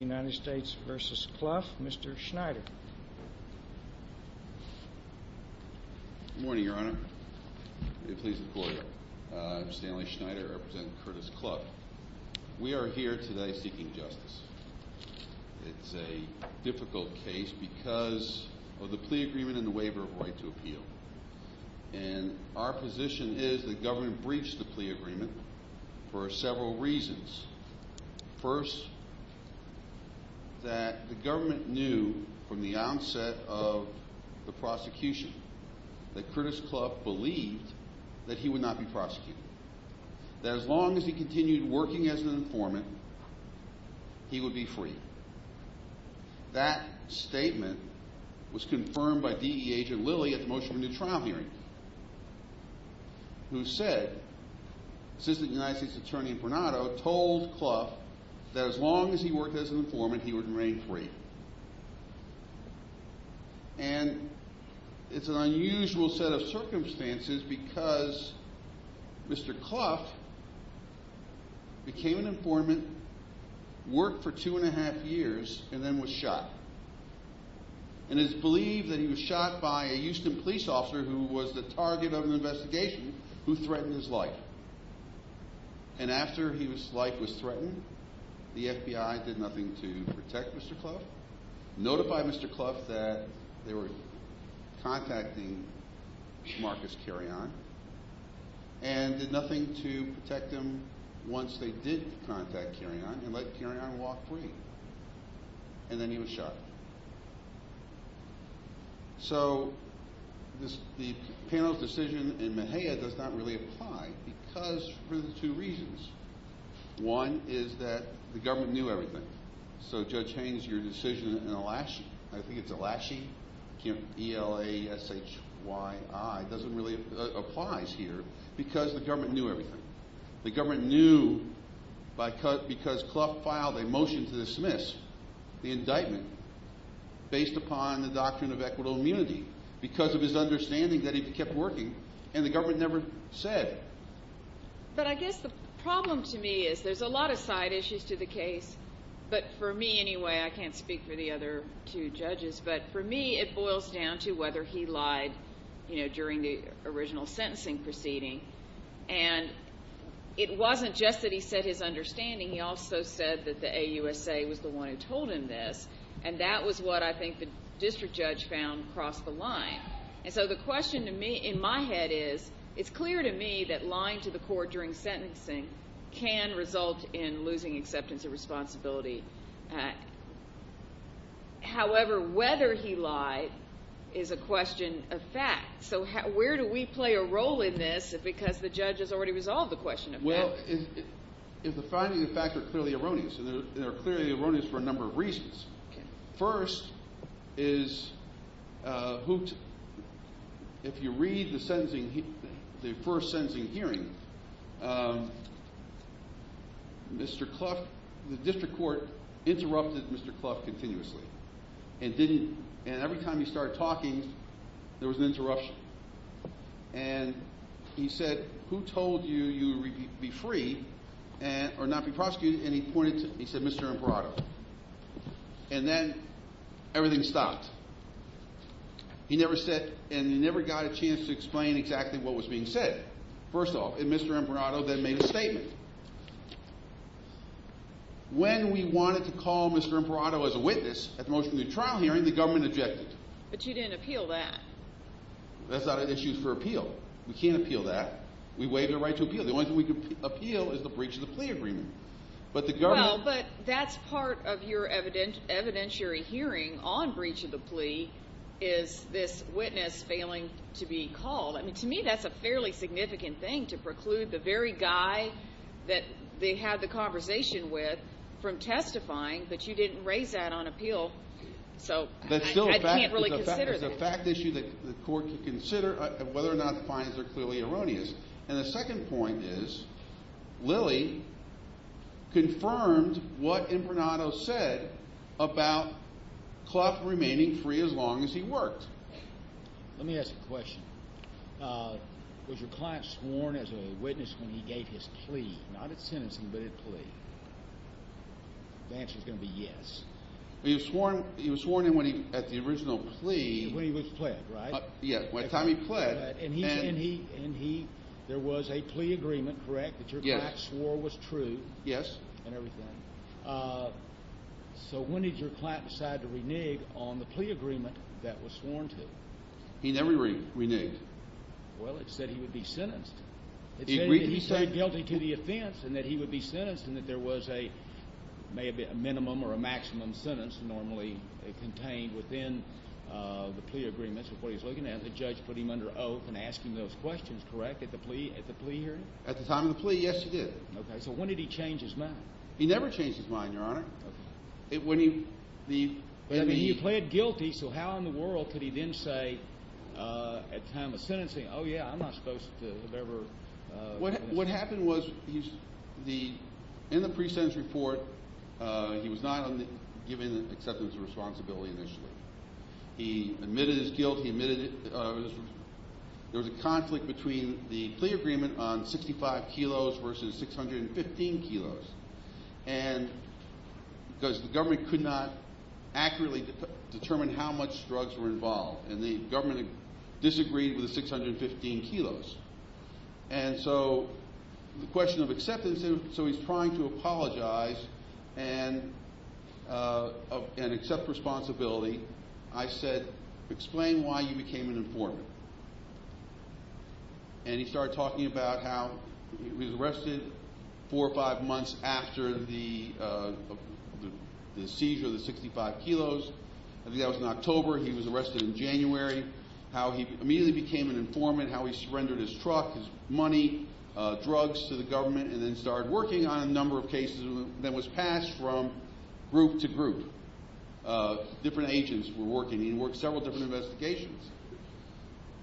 United States v. Cluff, Mr. Schneider Good morning, Your Honor, it pleases the Lord. I'm Stanley Schneider, representing Curtis Cluff. We are here today seeking justice. It's a difficult case because of the plea agreement and the waiver of right to appeal. And our position is the government breached the plea agreement for several reasons. First, that the government knew from the onset of the prosecution that Curtis Cluff believed that he would not be prosecuted. That as long as he continued working as an informant, he would be free. That statement was confirmed by DEA agent Lilly at the motion for new trial hearing, who said, Assistant United States Attorney Bernardo told Cluff that as long as he worked as an informant, he would remain free. And it's an unusual set of circumstances because Mr. Cluff became an informant, worked for two and a half years, and then was shot. And it's believed that he was shot by a Houston police officer who was the target of an investigation who threatened his life. And after his life was threatened, the FBI did nothing to protect Mr. Cluff, notified Mr. Cluff that they were contacting Marcus Carrion, and did nothing to protect him once they did contact Carrion and let Carrion walk free. And then he was shot. So the panel's decision in Mahea does not really apply because for the two reasons. One is that the government knew everything. So Judge Haines, your decision in Elashi, I think it's Elashi, E-L-A-S-H-Y-I, doesn't really apply here because the government knew everything. The government knew because Cluff filed a motion to dismiss the indictment based upon the doctrine of equitable immunity because of his understanding that he kept working and the government never said. But I guess the problem to me is there's a lot of side issues to the case, but for me anyway, I can't speak for the other two judges, but for me it boils down to whether he lied during the original sentencing proceeding. And it wasn't just that he said his understanding, he also said that the AUSA was the one who told him this, and that was what I think the district judge found crossed the line. And so the question to me in my head is, it's clear to me that lying to the court during sentencing can result in losing acceptance of responsibility. However, whether he lied is a question of fact. So where do we play a role in this because the judge has already resolved the question of fact? Well, if the finding of fact are clearly erroneous, and they're clearly erroneous for a number of reasons. First is, if you read the first sentencing hearing, Mr. Clough, the district court interrupted Mr. Clough continuously. And every time he started talking, there was an interruption. And he said, who told you you would be free or not be prosecuted? And he pointed to, he said, Mr. Imparato. And then everything stopped. He never said, and he never got a chance to explain exactly what was being said. First off, if Mr. Imparato then made a statement. When we wanted to call Mr. Imparato as a witness at the motion to the trial hearing, the government objected. But you didn't appeal that. That's not an issue for appeal. We can't appeal that. We waive the right to appeal. The only thing we can appeal is the breach of the plea agreement. Well, but that's part of your evidentiary hearing on breach of the plea is this witness failing to be called. I mean, to me, that's a fairly significant thing to preclude the very guy that they had the conversation with from testifying, but you didn't raise that on appeal. So I can't really consider that. That's still a fact issue that the court can consider whether or not the findings are clearly erroneous. And the second point is, Lilly confirmed what Imparato said about Clough remaining free as long as he worked. Let me ask a question. Was your client sworn as a witness when he gave his plea? Not at sentencing, but at plea. The answer is going to be yes. He was sworn in at the original plea. When he was pled, right? Yeah, by the time he pled. And he, and he, and he, there was a plea agreement, correct, that your client swore was true. Yes. And everything. So when did your client decide to renege on the plea agreement that was sworn to? He never reneged. Well, it said he would be sentenced. He agreed to be sentenced. He said guilty to the offense and that he would be sentenced and that there was a, may have been a minimum or a maximum sentence normally contained within the plea agreements of what he was looking at. And the judge put him under oath and asked him those questions, correct, at the plea, at the plea hearing? At the time of the plea, yes, he did. Okay. So when did he change his mind? He never changed his mind, Your Honor. Okay. When he, the. I mean, he pled guilty, so how in the world could he then say at time of sentencing, oh yeah, I'm not supposed to have ever. What, what happened was he's, the, in the pre-sentence report, he was not given acceptance of responsibility initially. He admitted his guilt. He admitted it, there was a conflict between the plea agreement on 65 kilos versus 615 kilos. And because the government could not accurately determine how much drugs were involved and the government disagreed with the 615 kilos. And so the question of acceptance, so he's trying to apologize and, and accept responsibility. I said, explain why you became an informant. And he started talking about how he was arrested four or five months after the, the seizure of the 65 kilos. I think that was in October. He was arrested in January. How he immediately became an informant, how he surrendered his truck, his money, drugs to the government, and then started working on a number of cases that was passed from group to group. Different agents were working. He worked several different investigations.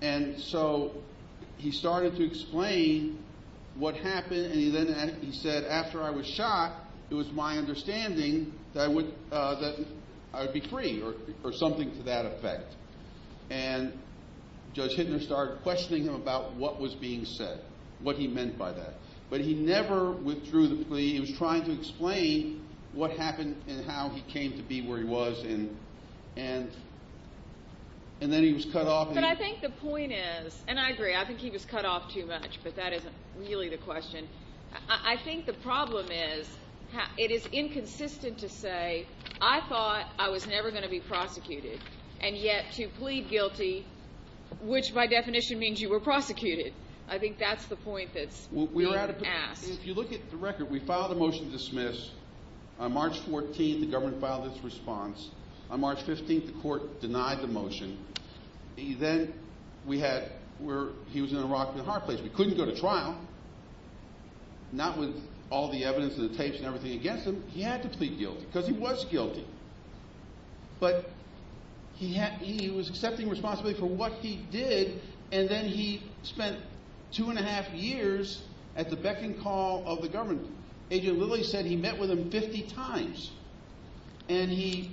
And so he started to explain what happened. And he then, he said, after I was shot, it was my understanding that I would, that I would be free or, or something to that effect. And Judge Hittner started questioning him about what was being said, what he meant by that. But he never withdrew the plea. He was trying to explain what happened and how he came to be where he was. And, and, and then he was cut off. But I think the point is, and I agree, I think he was cut off too much, but that isn't really the question. I think the problem is, it is inconsistent to say, I thought I was never going to be prosecuted and yet to plead guilty, which by definition means you were prosecuted. I think that's the point that's being asked. If you look at the record, we filed a motion to dismiss. On March 14th, the government filed its response. On March 15th, the court denied the motion. Then we had, we're, he was in a rock and a hard place. We couldn't go to trial, not with all the evidence and the tapes and everything against him. He had to plead guilty because he was guilty, but he had, he was accepting responsibility for what he did. And then he spent two and a half years at the beck and call of the government. Agent Lilly said he met with him 50 times and he.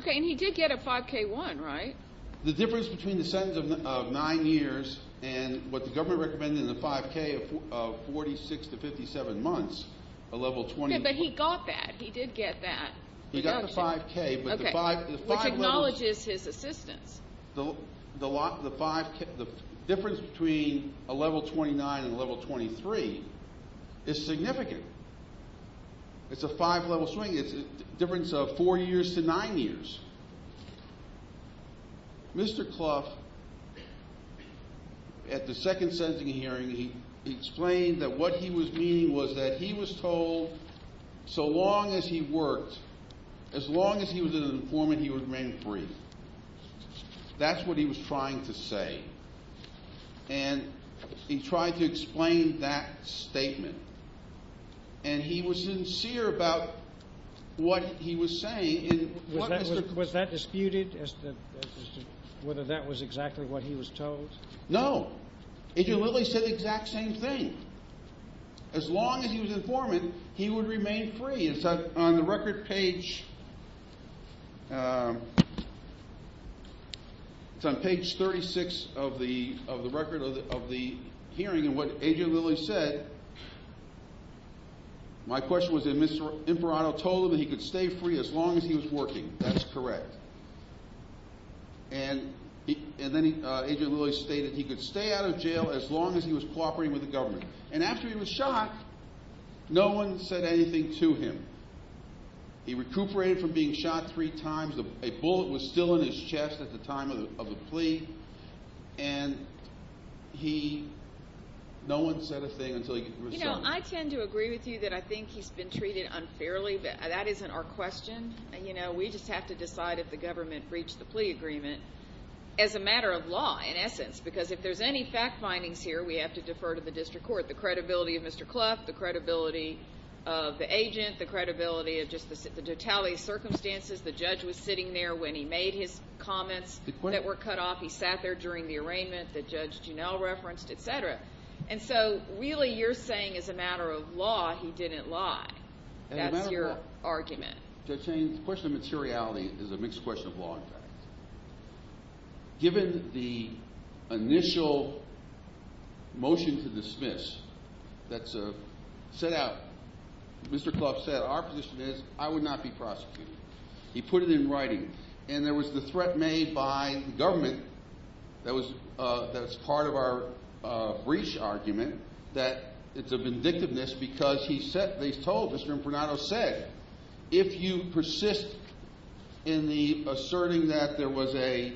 Okay. And he did get a 5k one, right? The difference between the sentence of nine years and what the government recommended in the 5k of that. He got the 5k, which acknowledges his assistance. The difference between a level 29 and a level 23 is significant. It's a five level swing. It's a difference of four years to nine years. Mr. Clough at the second sentencing hearing, he explained that what he was meaning was that he was told so long as he worked, as long as he was an informant, he would remain free. That's what he was trying to say. And he tried to explain that statement and he was sincere about what he was saying. Was that disputed as to whether that was exactly what he was told? No. Agent Lilly said the exact same thing. As long as he was an informant, he would remain free. And so on the record page, it's on page 36 of the record of the hearing and what Agent Lilly said, my question was that Mr. Imparato told him that he could stay free as long as he was working. That's correct. And then Agent Lilly stated he could stay out of jail as long as he was cooperating with the government. And after he was shot, no one said anything to him. He recuperated from being shot three times. A bullet was still in his chest at the time of the plea. And no one said a thing until he was shot. I tend to agree with you that I think he's been treated unfairly, but that isn't our question. We just have to decide if the government breached the plea agreement as a matter of law, in essence, because if there's any fact findings here, we have to defer to the district court. The credibility of Mr. Clough, the credibility of the agent, the credibility of just the totality of circumstances. The judge was sitting there when he made his comments that were cut off. He sat there during the arraignment that Judge Juneau referenced, et cetera. And so really you're saying as a matter of law, he didn't lie. That's your argument. Judge Haines, the question of materiality is a mixed question of law and fact. Given the initial motion to dismiss that's set out, Mr. Clough said our position is I would not be prosecuted. He put it in writing. And there was the threat made by the government that was part of our breach argument that it's a vindictiveness because he said, he's told, Mr. Impronato said, if you persist in the asserting that there was a,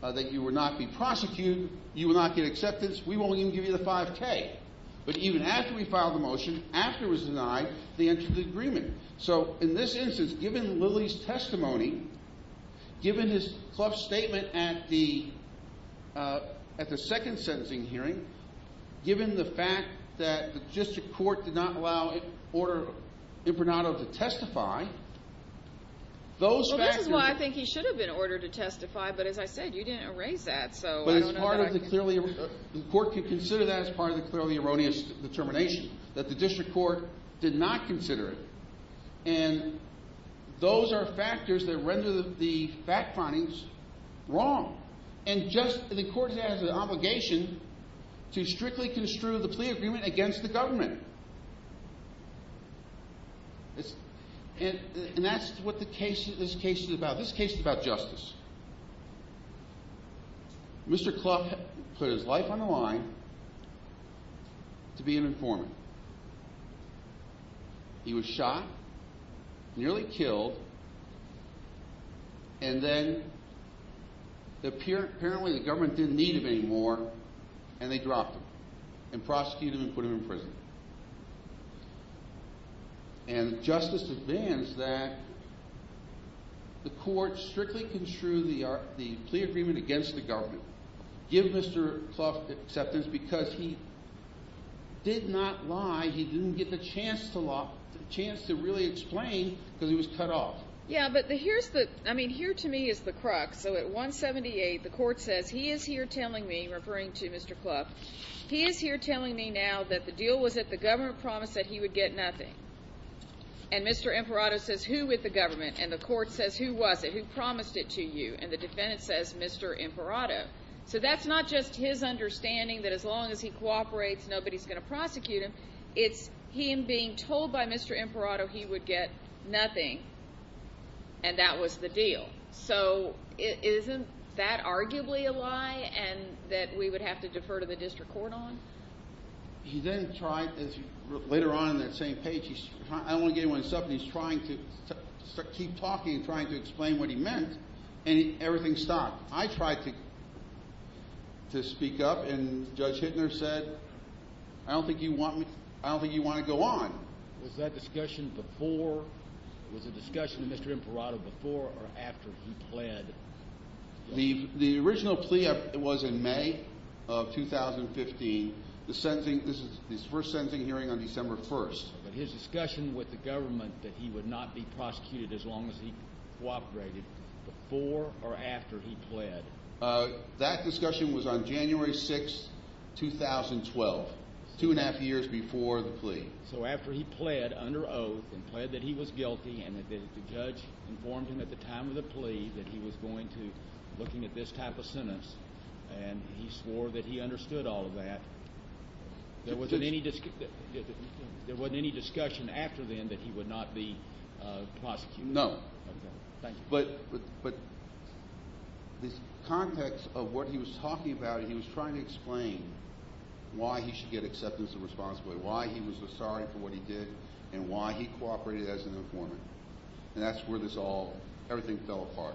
that you would not be prosecuted, you will not get acceptance, we won't even give you the 5k. But even after we filed the motion, after it was denied, they entered the agreement. So in this instance, given Lily's testimony, given his Clough statement at the second sentencing hearing, given the fact that the district court did not allow Impronato to testify, those factors... Well, this is why I think he should have been ordered to testify, but as I said, you didn't erase that, so I don't know that I can... But as part of the clearly, the court could consider that as part of the clearly erroneous determination, that the district court did not consider it. And those are factors that render the fact findings wrong. And just, the court has an obligation to strictly construe the plea agreement against the government. And that's what this case is about. This case is about justice. Mr. Clough put his life on the line to be an informant. He was shot, nearly killed, and then apparently the government didn't need him anymore, and they dropped him, and prosecuted him, and put him in prison. And justice demands that the court strictly construe the plea agreement against the government, give Mr. Clough acceptance because he did not lie, he didn't get the chance to really explain, because he was cut off. Yeah, but here's the, I mean, here to me is the crux. So at 178, the court says, he is here telling me, referring to Mr. Clough, he is here telling me now that the deal was that the government promised that he would get nothing. And Mr. Imperato says, who with the government? And the court says, who was it? Who promised it to you? And the defendant says, Mr. Imperato. So that's not just his understanding that as long as he cooperates, nobody's going to prosecute him. It's him being told by Mr. Imperato he would get nothing, and that was the deal. So isn't that arguably a lie, and that we would have to defer to the district court on? He then tried, later on in that same page, he's, I don't want to get anyone's stuff, and he's trying to keep talking, trying to explain what he meant, and everything stopped. I tried to speak up, and Judge Hittner said, I don't think you want me, I don't think you want to go on. Was that discussion before, was the discussion with Mr. Imperato before or after he pled? The original plea was in May of 2015, the sentencing, this is his first sentencing hearing on December 1st. But his discussion with the government that he would not be prosecuted as long as he cooperated, before or after he pled? That discussion was on January 6th, 2012, two and a half years before the plea. So after he pled under oath, and pled that he was guilty, and that the judge informed him at the time of the plea that he was going to looking at this type of sentence, and he swore that he understood all of that, there wasn't any discussion after then that he would not be prosecuted? No. But the context of what he was talking about, he was trying to explain why he should get acceptance of responsibility, why he was sorry for what he did, and why he cooperated as an informant. And that's where this all, everything fell apart.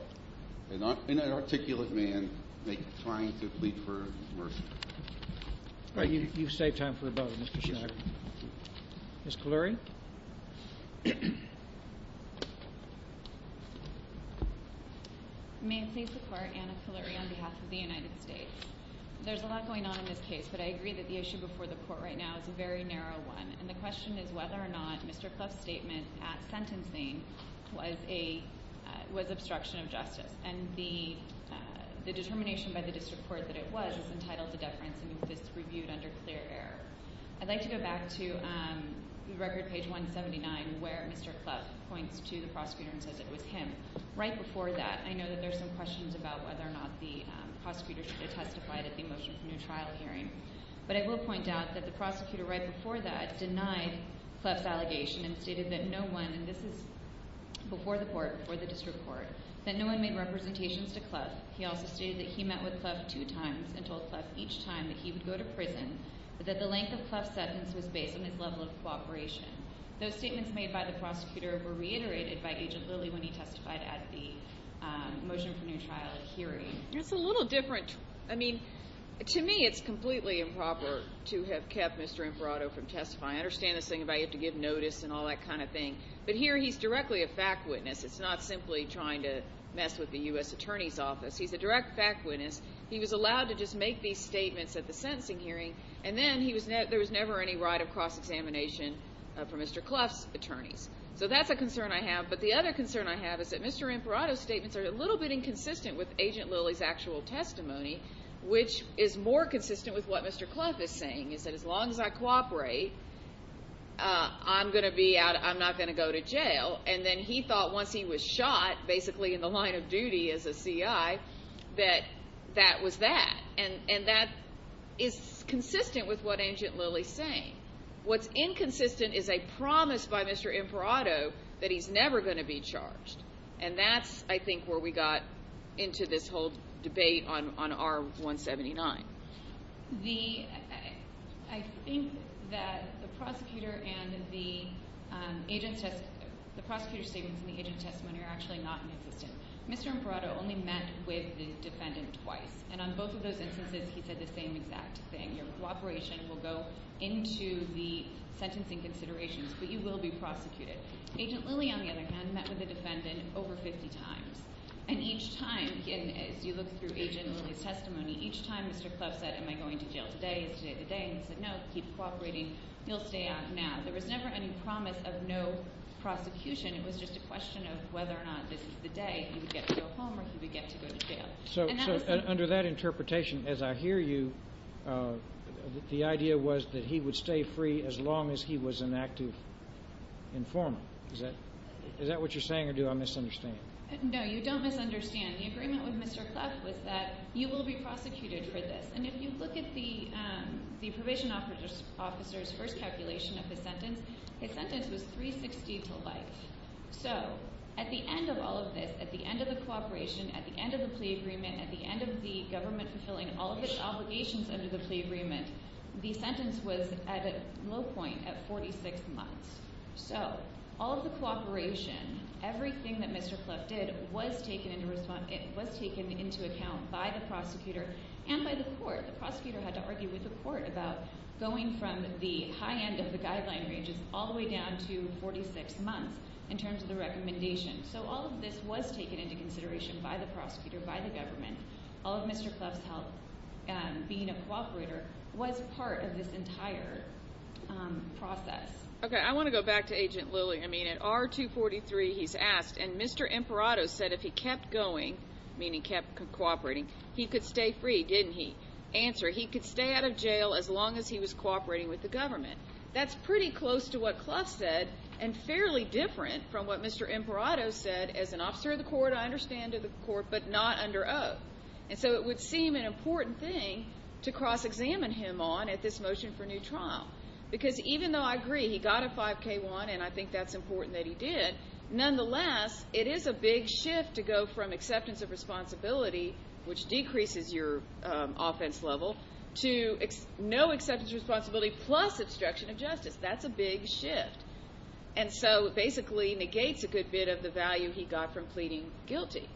An articulate man trying to plead for mercy. You've saved time for a vote. Ms. Kaluri? May it please the court, Anna Kaluri on behalf of the United States. There's a lot going on in this case, but I agree that the issue before the court right now is a very narrow one. And the question is whether or not Mr. Clough's statement at sentencing was obstruction of justice. And the determination by the district court that it was, is entitled to deference and if it's reviewed under clear air. I'd like to go back to record page 179, where Mr. Clough points to the prosecutor and says it was him. Right before that, I know that there's some questions about whether or not the prosecutor should have testified at the motion for new trial hearing. But I will point out that the prosecutor right before that denied Clough's allegation and stated that no one, and this is before the court, before the district court, that no one made representations to Clough. He also stated that he met with Clough two times and told Clough each time that he would go to prison, but that the length of Clough's sentence was based on his level of cooperation. Those statements made by the prosecutor were reiterated by Agent Lilly when he testified at the motion for new trial hearing. That's a little different. I mean, to me, it's completely improper to have kept Mr. Imparato from testifying. I understand this thing about you have to give notice and all that kind of thing. But here he's directly a fact witness. It's not simply trying to mess with the U.S. Attorney's Office. He's a direct fact witness. He was allowed to just make these statements at the sentencing hearing, and then there was never any right of cross-examination for Mr. Clough's attorneys. So that's a concern I have. But the other concern I have is that Mr. Imparato's statements are a little bit inconsistent with Agent Lilly's actual testimony, which is more consistent with what Mr. Clough is saying, is that as long as I cooperate, I'm not going to go to jail. And then he thought once he was shot, basically, in the line of duty as a C.I., that that was that. And that is consistent with what Agent Lilly's saying. What's inconsistent is a promise by Mr. Imparato that he's never going to be charged. And that's, I think, where we got into this whole debate on R-179. I think that the prosecutor's statements and the agent's testimony are actually not inconsistent. Mr. Imparato only met with the defendant twice. And on both of those instances, he said the same exact thing. Your cooperation will go into the sentencing considerations, but you will be prosecuted. Agent Lilly, on the other hand, met with the defendant over 50 times. And each time, as you look through Agent Lilly's testimony, each time Mr. Clough said, am I going to jail today? Is today the day? And he said, no, keep cooperating. He'll stay out now. There was never any promise of no prosecution. It was just a question of whether or not this is the day he would get to go home or he would get to go to jail. So under that interpretation, as I hear you, the idea was that he would stay free as long as he was an active informant. Is that what you're saying, or do I misunderstand? No, you don't misunderstand. The agreement with Mr. Clough was that you will be prosecuted for this. And if you look at the probation officer's first calculation of his sentence, his sentence was 360 to life. So at the end of all of this, at the end of the cooperation, at the end of the plea agreement, at the end of the government fulfilling all of its obligations under the So all of the cooperation, everything that Mr. Clough did was taken into account by the prosecutor and by the court. The prosecutor had to argue with the court about going from the high end of the guideline ranges all the way down to 46 months in terms of the recommendation. So all of this was taken into consideration by the prosecutor, by the government. All of Mr. Clough's help being a cooperator was part of this entire process. Okay, I want to go back to Agent Lilly. I mean, at R243, he's asked, and Mr. Imperato said if he kept going, meaning kept cooperating, he could stay free, didn't he? Answer, he could stay out of jail as long as he was cooperating with the government. That's pretty close to what Clough said and fairly different from what Mr. Imperato said as an officer of the court, I understand, but not under oath. And so it would seem an important thing to cross-examine him on at this motion for new trial. Because even though I agree he got a 5k1, and I think that's important that he did, nonetheless, it is a big shift to go from acceptance of responsibility, which decreases your offense level, to no acceptance of responsibility plus obstruction of justice. That's a big shift. And so basically negates a good bit of the value he got from pleading guilty.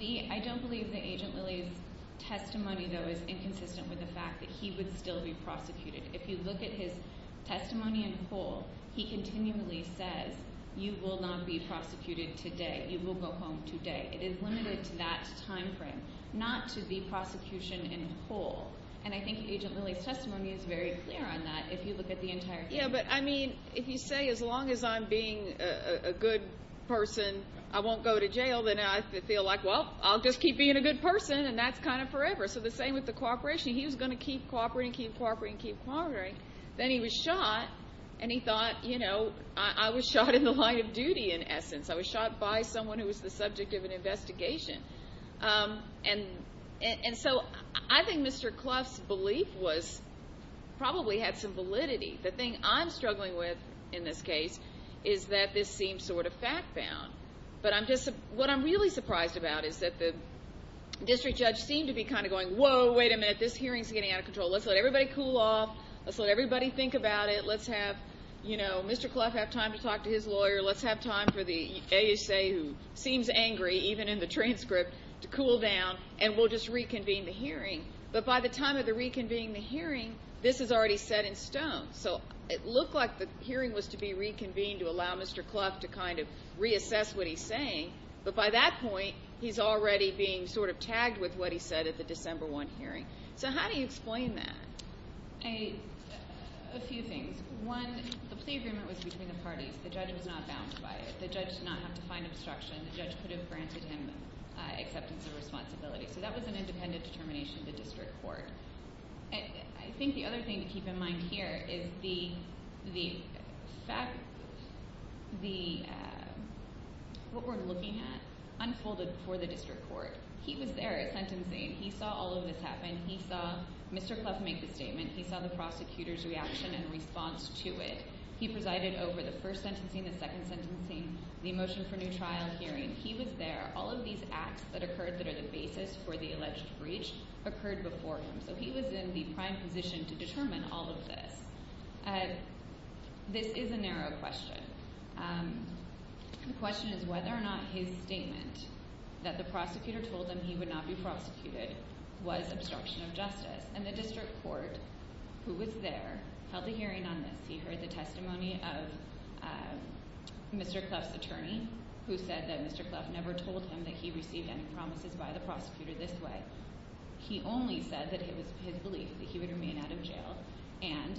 I don't believe that Agent Lilly's testimony, though, is inconsistent with the fact that he would still be prosecuted. If you look at his testimony in whole, he continually says, you will not be prosecuted today. You will go home today. It is limited to that time frame, not to the prosecution in whole. And I think Agent Lilly's testimony is very clear on that, if you look at the entire thing. Yeah, but I mean, if you say, as long as I'm being a good person, I won't go to jail, then I feel like, well, I'll just keep being a good person, and that's kind of forever. So the same with the cooperation. He was going to keep cooperating, keep cooperating, keep cooperating. Then he was shot, and he thought, you know, I was shot in the line of duty, in essence. I was shot by someone who was the subject of an investigation. And so I think Mr. Clough's belief probably had some validity. The thing I'm struggling with, in this case, is that this seems sort of fact-bound. But what I'm really surprised about is that the district judge seemed to be kind of going, whoa, wait a minute, this hearing's getting out of control. Let's let everybody cool off. Let's let everybody think about it. Let's have, you know, Mr. Clough have time to talk to his lawyer. Let's have time for the ASA, who seems hearing. But by the time of the reconvening, the hearing, this is already set in stone. So it looked like the hearing was to be reconvened to allow Mr. Clough to kind of reassess what he's saying. But by that point, he's already being sort of tagged with what he said at the December 1 hearing. So how do you explain that? A few things. One, the plea agreement was between the parties. The judge was not bound by it. The judge did not have to find obstruction. The judge could have granted him acceptance of responsibility. So that was an independent determination of the district court. I think the other thing to keep in mind here is the fact, what we're looking at unfolded before the district court. He was there at sentencing. He saw all of this happen. He saw Mr. Clough make the statement. He saw the prosecutor's reaction and response to it. He presided over the first sentencing, the second sentencing, the motion for new trial hearing. He was there. All of these acts that occurred that are the basis for the alleged breach occurred before him. So he was in the prime position to determine all of this. This is a narrow question. The question is whether or not his statement that the prosecutor told him he would not be prosecuted was obstruction of justice. And the district court who was there held a hearing on this. He heard the testimony of Mr. Clough's attorney, who said that Mr. Clough never told him that he received any promises by the prosecutor this way. He only said that it was his belief that he would remain out of jail. And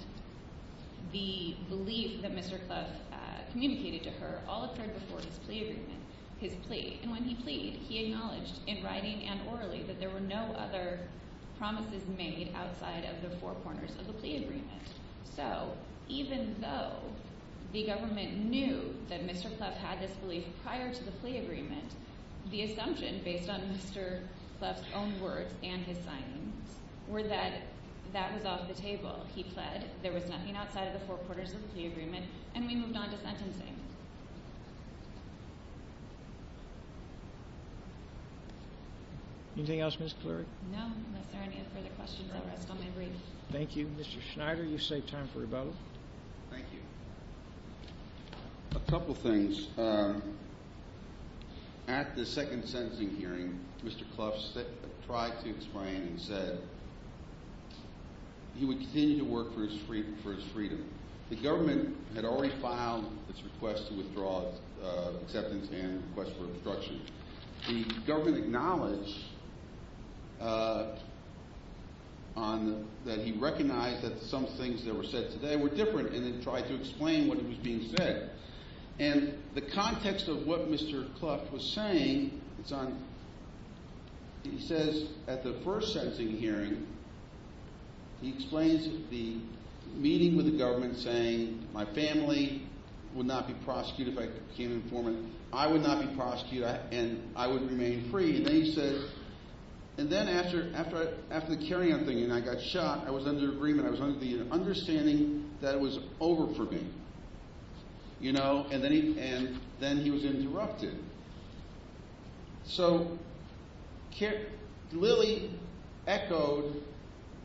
the belief that Mr. Clough communicated to her all occurred before his plea agreement, his plea. And when he pleaded, he acknowledged in writing and orally that there were no other promises made outside of the four corners of the plea agreement. So even though the government knew that Mr. Clough had this agreement, the assumption based on Mr. Clough's own words and his signings were that that was off the table. He pled. There was nothing outside of the four quarters of the agreement, and we moved on to sentencing. Anything else, Ms. Cleary? No, unless there are any further questions. Thank you, Mr. Schneider. You've saved time for rebuttal. Thank you. A couple things. At the second sentencing hearing, Mr. Clough tried to explain and said he would continue to work for his freedom. The government had already filed its request to withdraw acceptance and request for obstruction. The government acknowledged on that he recognized that some things that were said today were different, and it tried to explain what was being said. And the context of what Mr. Clough was saying, he says at the first sentencing hearing, he explains the meeting with the government saying my family would not be prosecuted if I became an informant. I would not be prosecuted and I would remain free. And then he said, and then after the carry-on thing and I got shot, I was under understanding that it was over for me. And then he was interrupted. So, Lilly echoed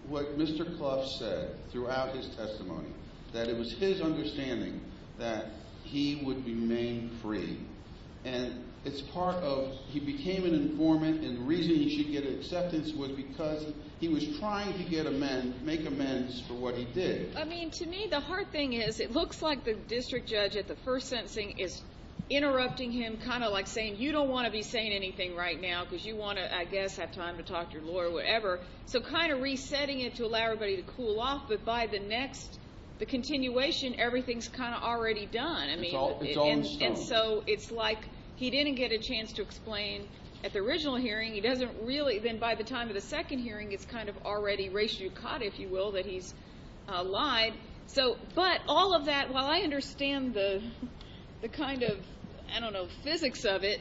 what Mr. Clough said throughout his testimony, that it was his understanding that he would remain free. And it's part of, he became an informant and the reason he should get what he did. I mean, to me, the hard thing is it looks like the district judge at the first sentencing is interrupting him, kind of like saying, you don't want to be saying anything right now because you want to, I guess, have time to talk to your lawyer, whatever. So kind of resetting it to allow everybody to cool off. But by the next, the continuation, everything's kind of already done. I mean, and so it's like he didn't get a chance to explain at the original hearing. He doesn't really, then by the time of the second hearing, it's kind of already ratio caught, if you will, that he's lied. So, but all of that, while I understand the kind of, I don't know, physics of it,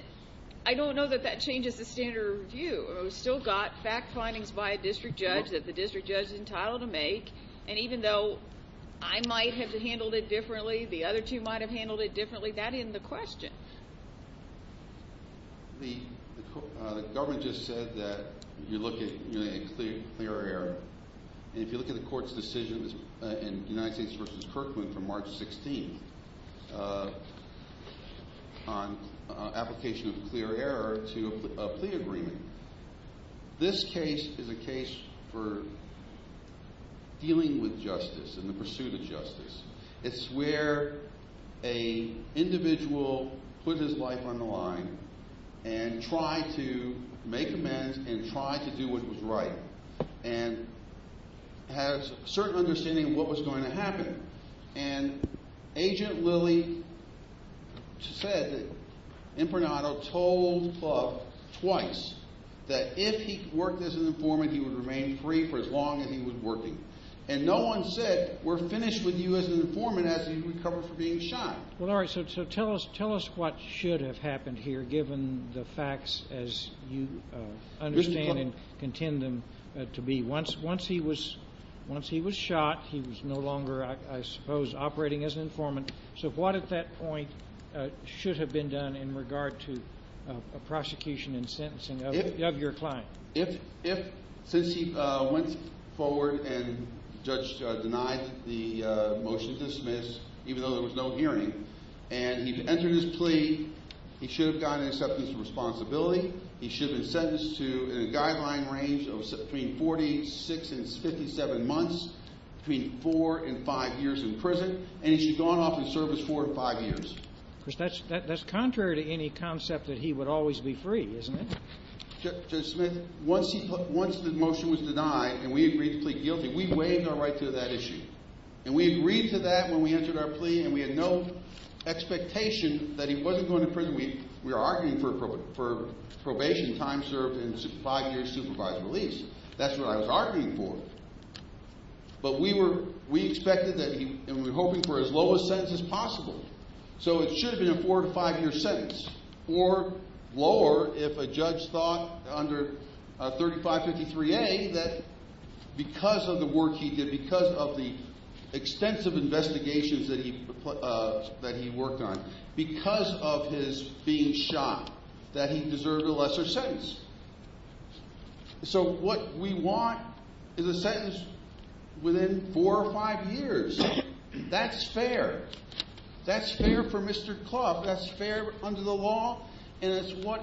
I don't know that that changes the standard of review. We've still got fact findings by a district judge that the district judge is entitled to make. And even though I might have handled it differently, the other two might have handled it differently, that isn't the question. The government just said that you look at a clear error. And if you look at the court's decision in United States v. Kirkland from March 16th on application of clear error to a plea agreement, this case is a case for dealing with justice and the pursuit of justice. It's where a individual put his life on the line and tried to make amends and tried to do what was right and had a certain understanding of what was going to happen. And Agent Lilly said that Impronato told Buck twice that if he worked as an informant, he would remain free for as long as he was working. And no one said, we're finished with you as an informant as you recover for being shunned. Well, all right. So tell us what should have happened here, given the facts as you understand and contend them to be. Once he was shot, he was no longer, I suppose, operating as an informant. So what at that point should have been done in regard to judge denied the motion to dismiss, even though there was no hearing. And he'd entered his plea. He should have gotten acceptance of responsibility. He should have been sentenced to a guideline range of between 46 and 57 months, between four and five years in prison. And he should have gone off in service four or five years. That's contrary to any concept that he would always be free, isn't it? Judge Smith, once the motion was denied and we agreed to plead guilty, we waived our right to that issue. And we agreed to that when we entered our plea. And we had no expectation that he wasn't going to prison. We were arguing for probation, time served, and five years supervised release. That's what I was arguing for. But we expected that he, and we were hoping for as low a sentence as possible. So it should have been a four to five sentence. Or lower if a judge thought under 3553A that because of the work he did, because of the extensive investigations that he worked on, because of his being shot, that he deserved a lesser sentence. So what we want is a sentence within four or five years. That's fair. That's fair for Mr. Clough. That's fair under the law. And it's what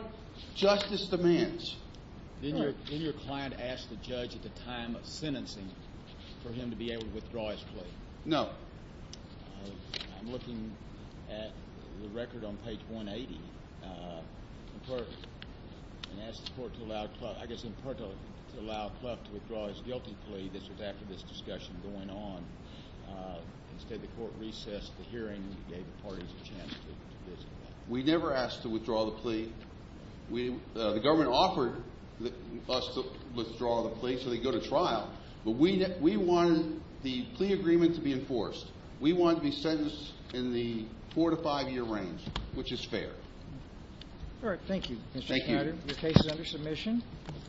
justice demands. Then your client asked the judge at the time of sentencing for him to be able to withdraw his plea? No. I'm looking at the record on page 180. And asked the court to allow Clough, I guess in part to allow Clough to withdraw his guilty plea. This was after this discussion going on. Instead the court recessed the hearing, gave the parties a chance to discuss. We never asked to withdraw the plea. The government offered us to withdraw the plea, so they go to trial. But we wanted the plea agreement to be enforced. We wanted to be sentenced in the four to five year range, which is fair. All right. Thank you, Mr. Schneider. Your case is under submission.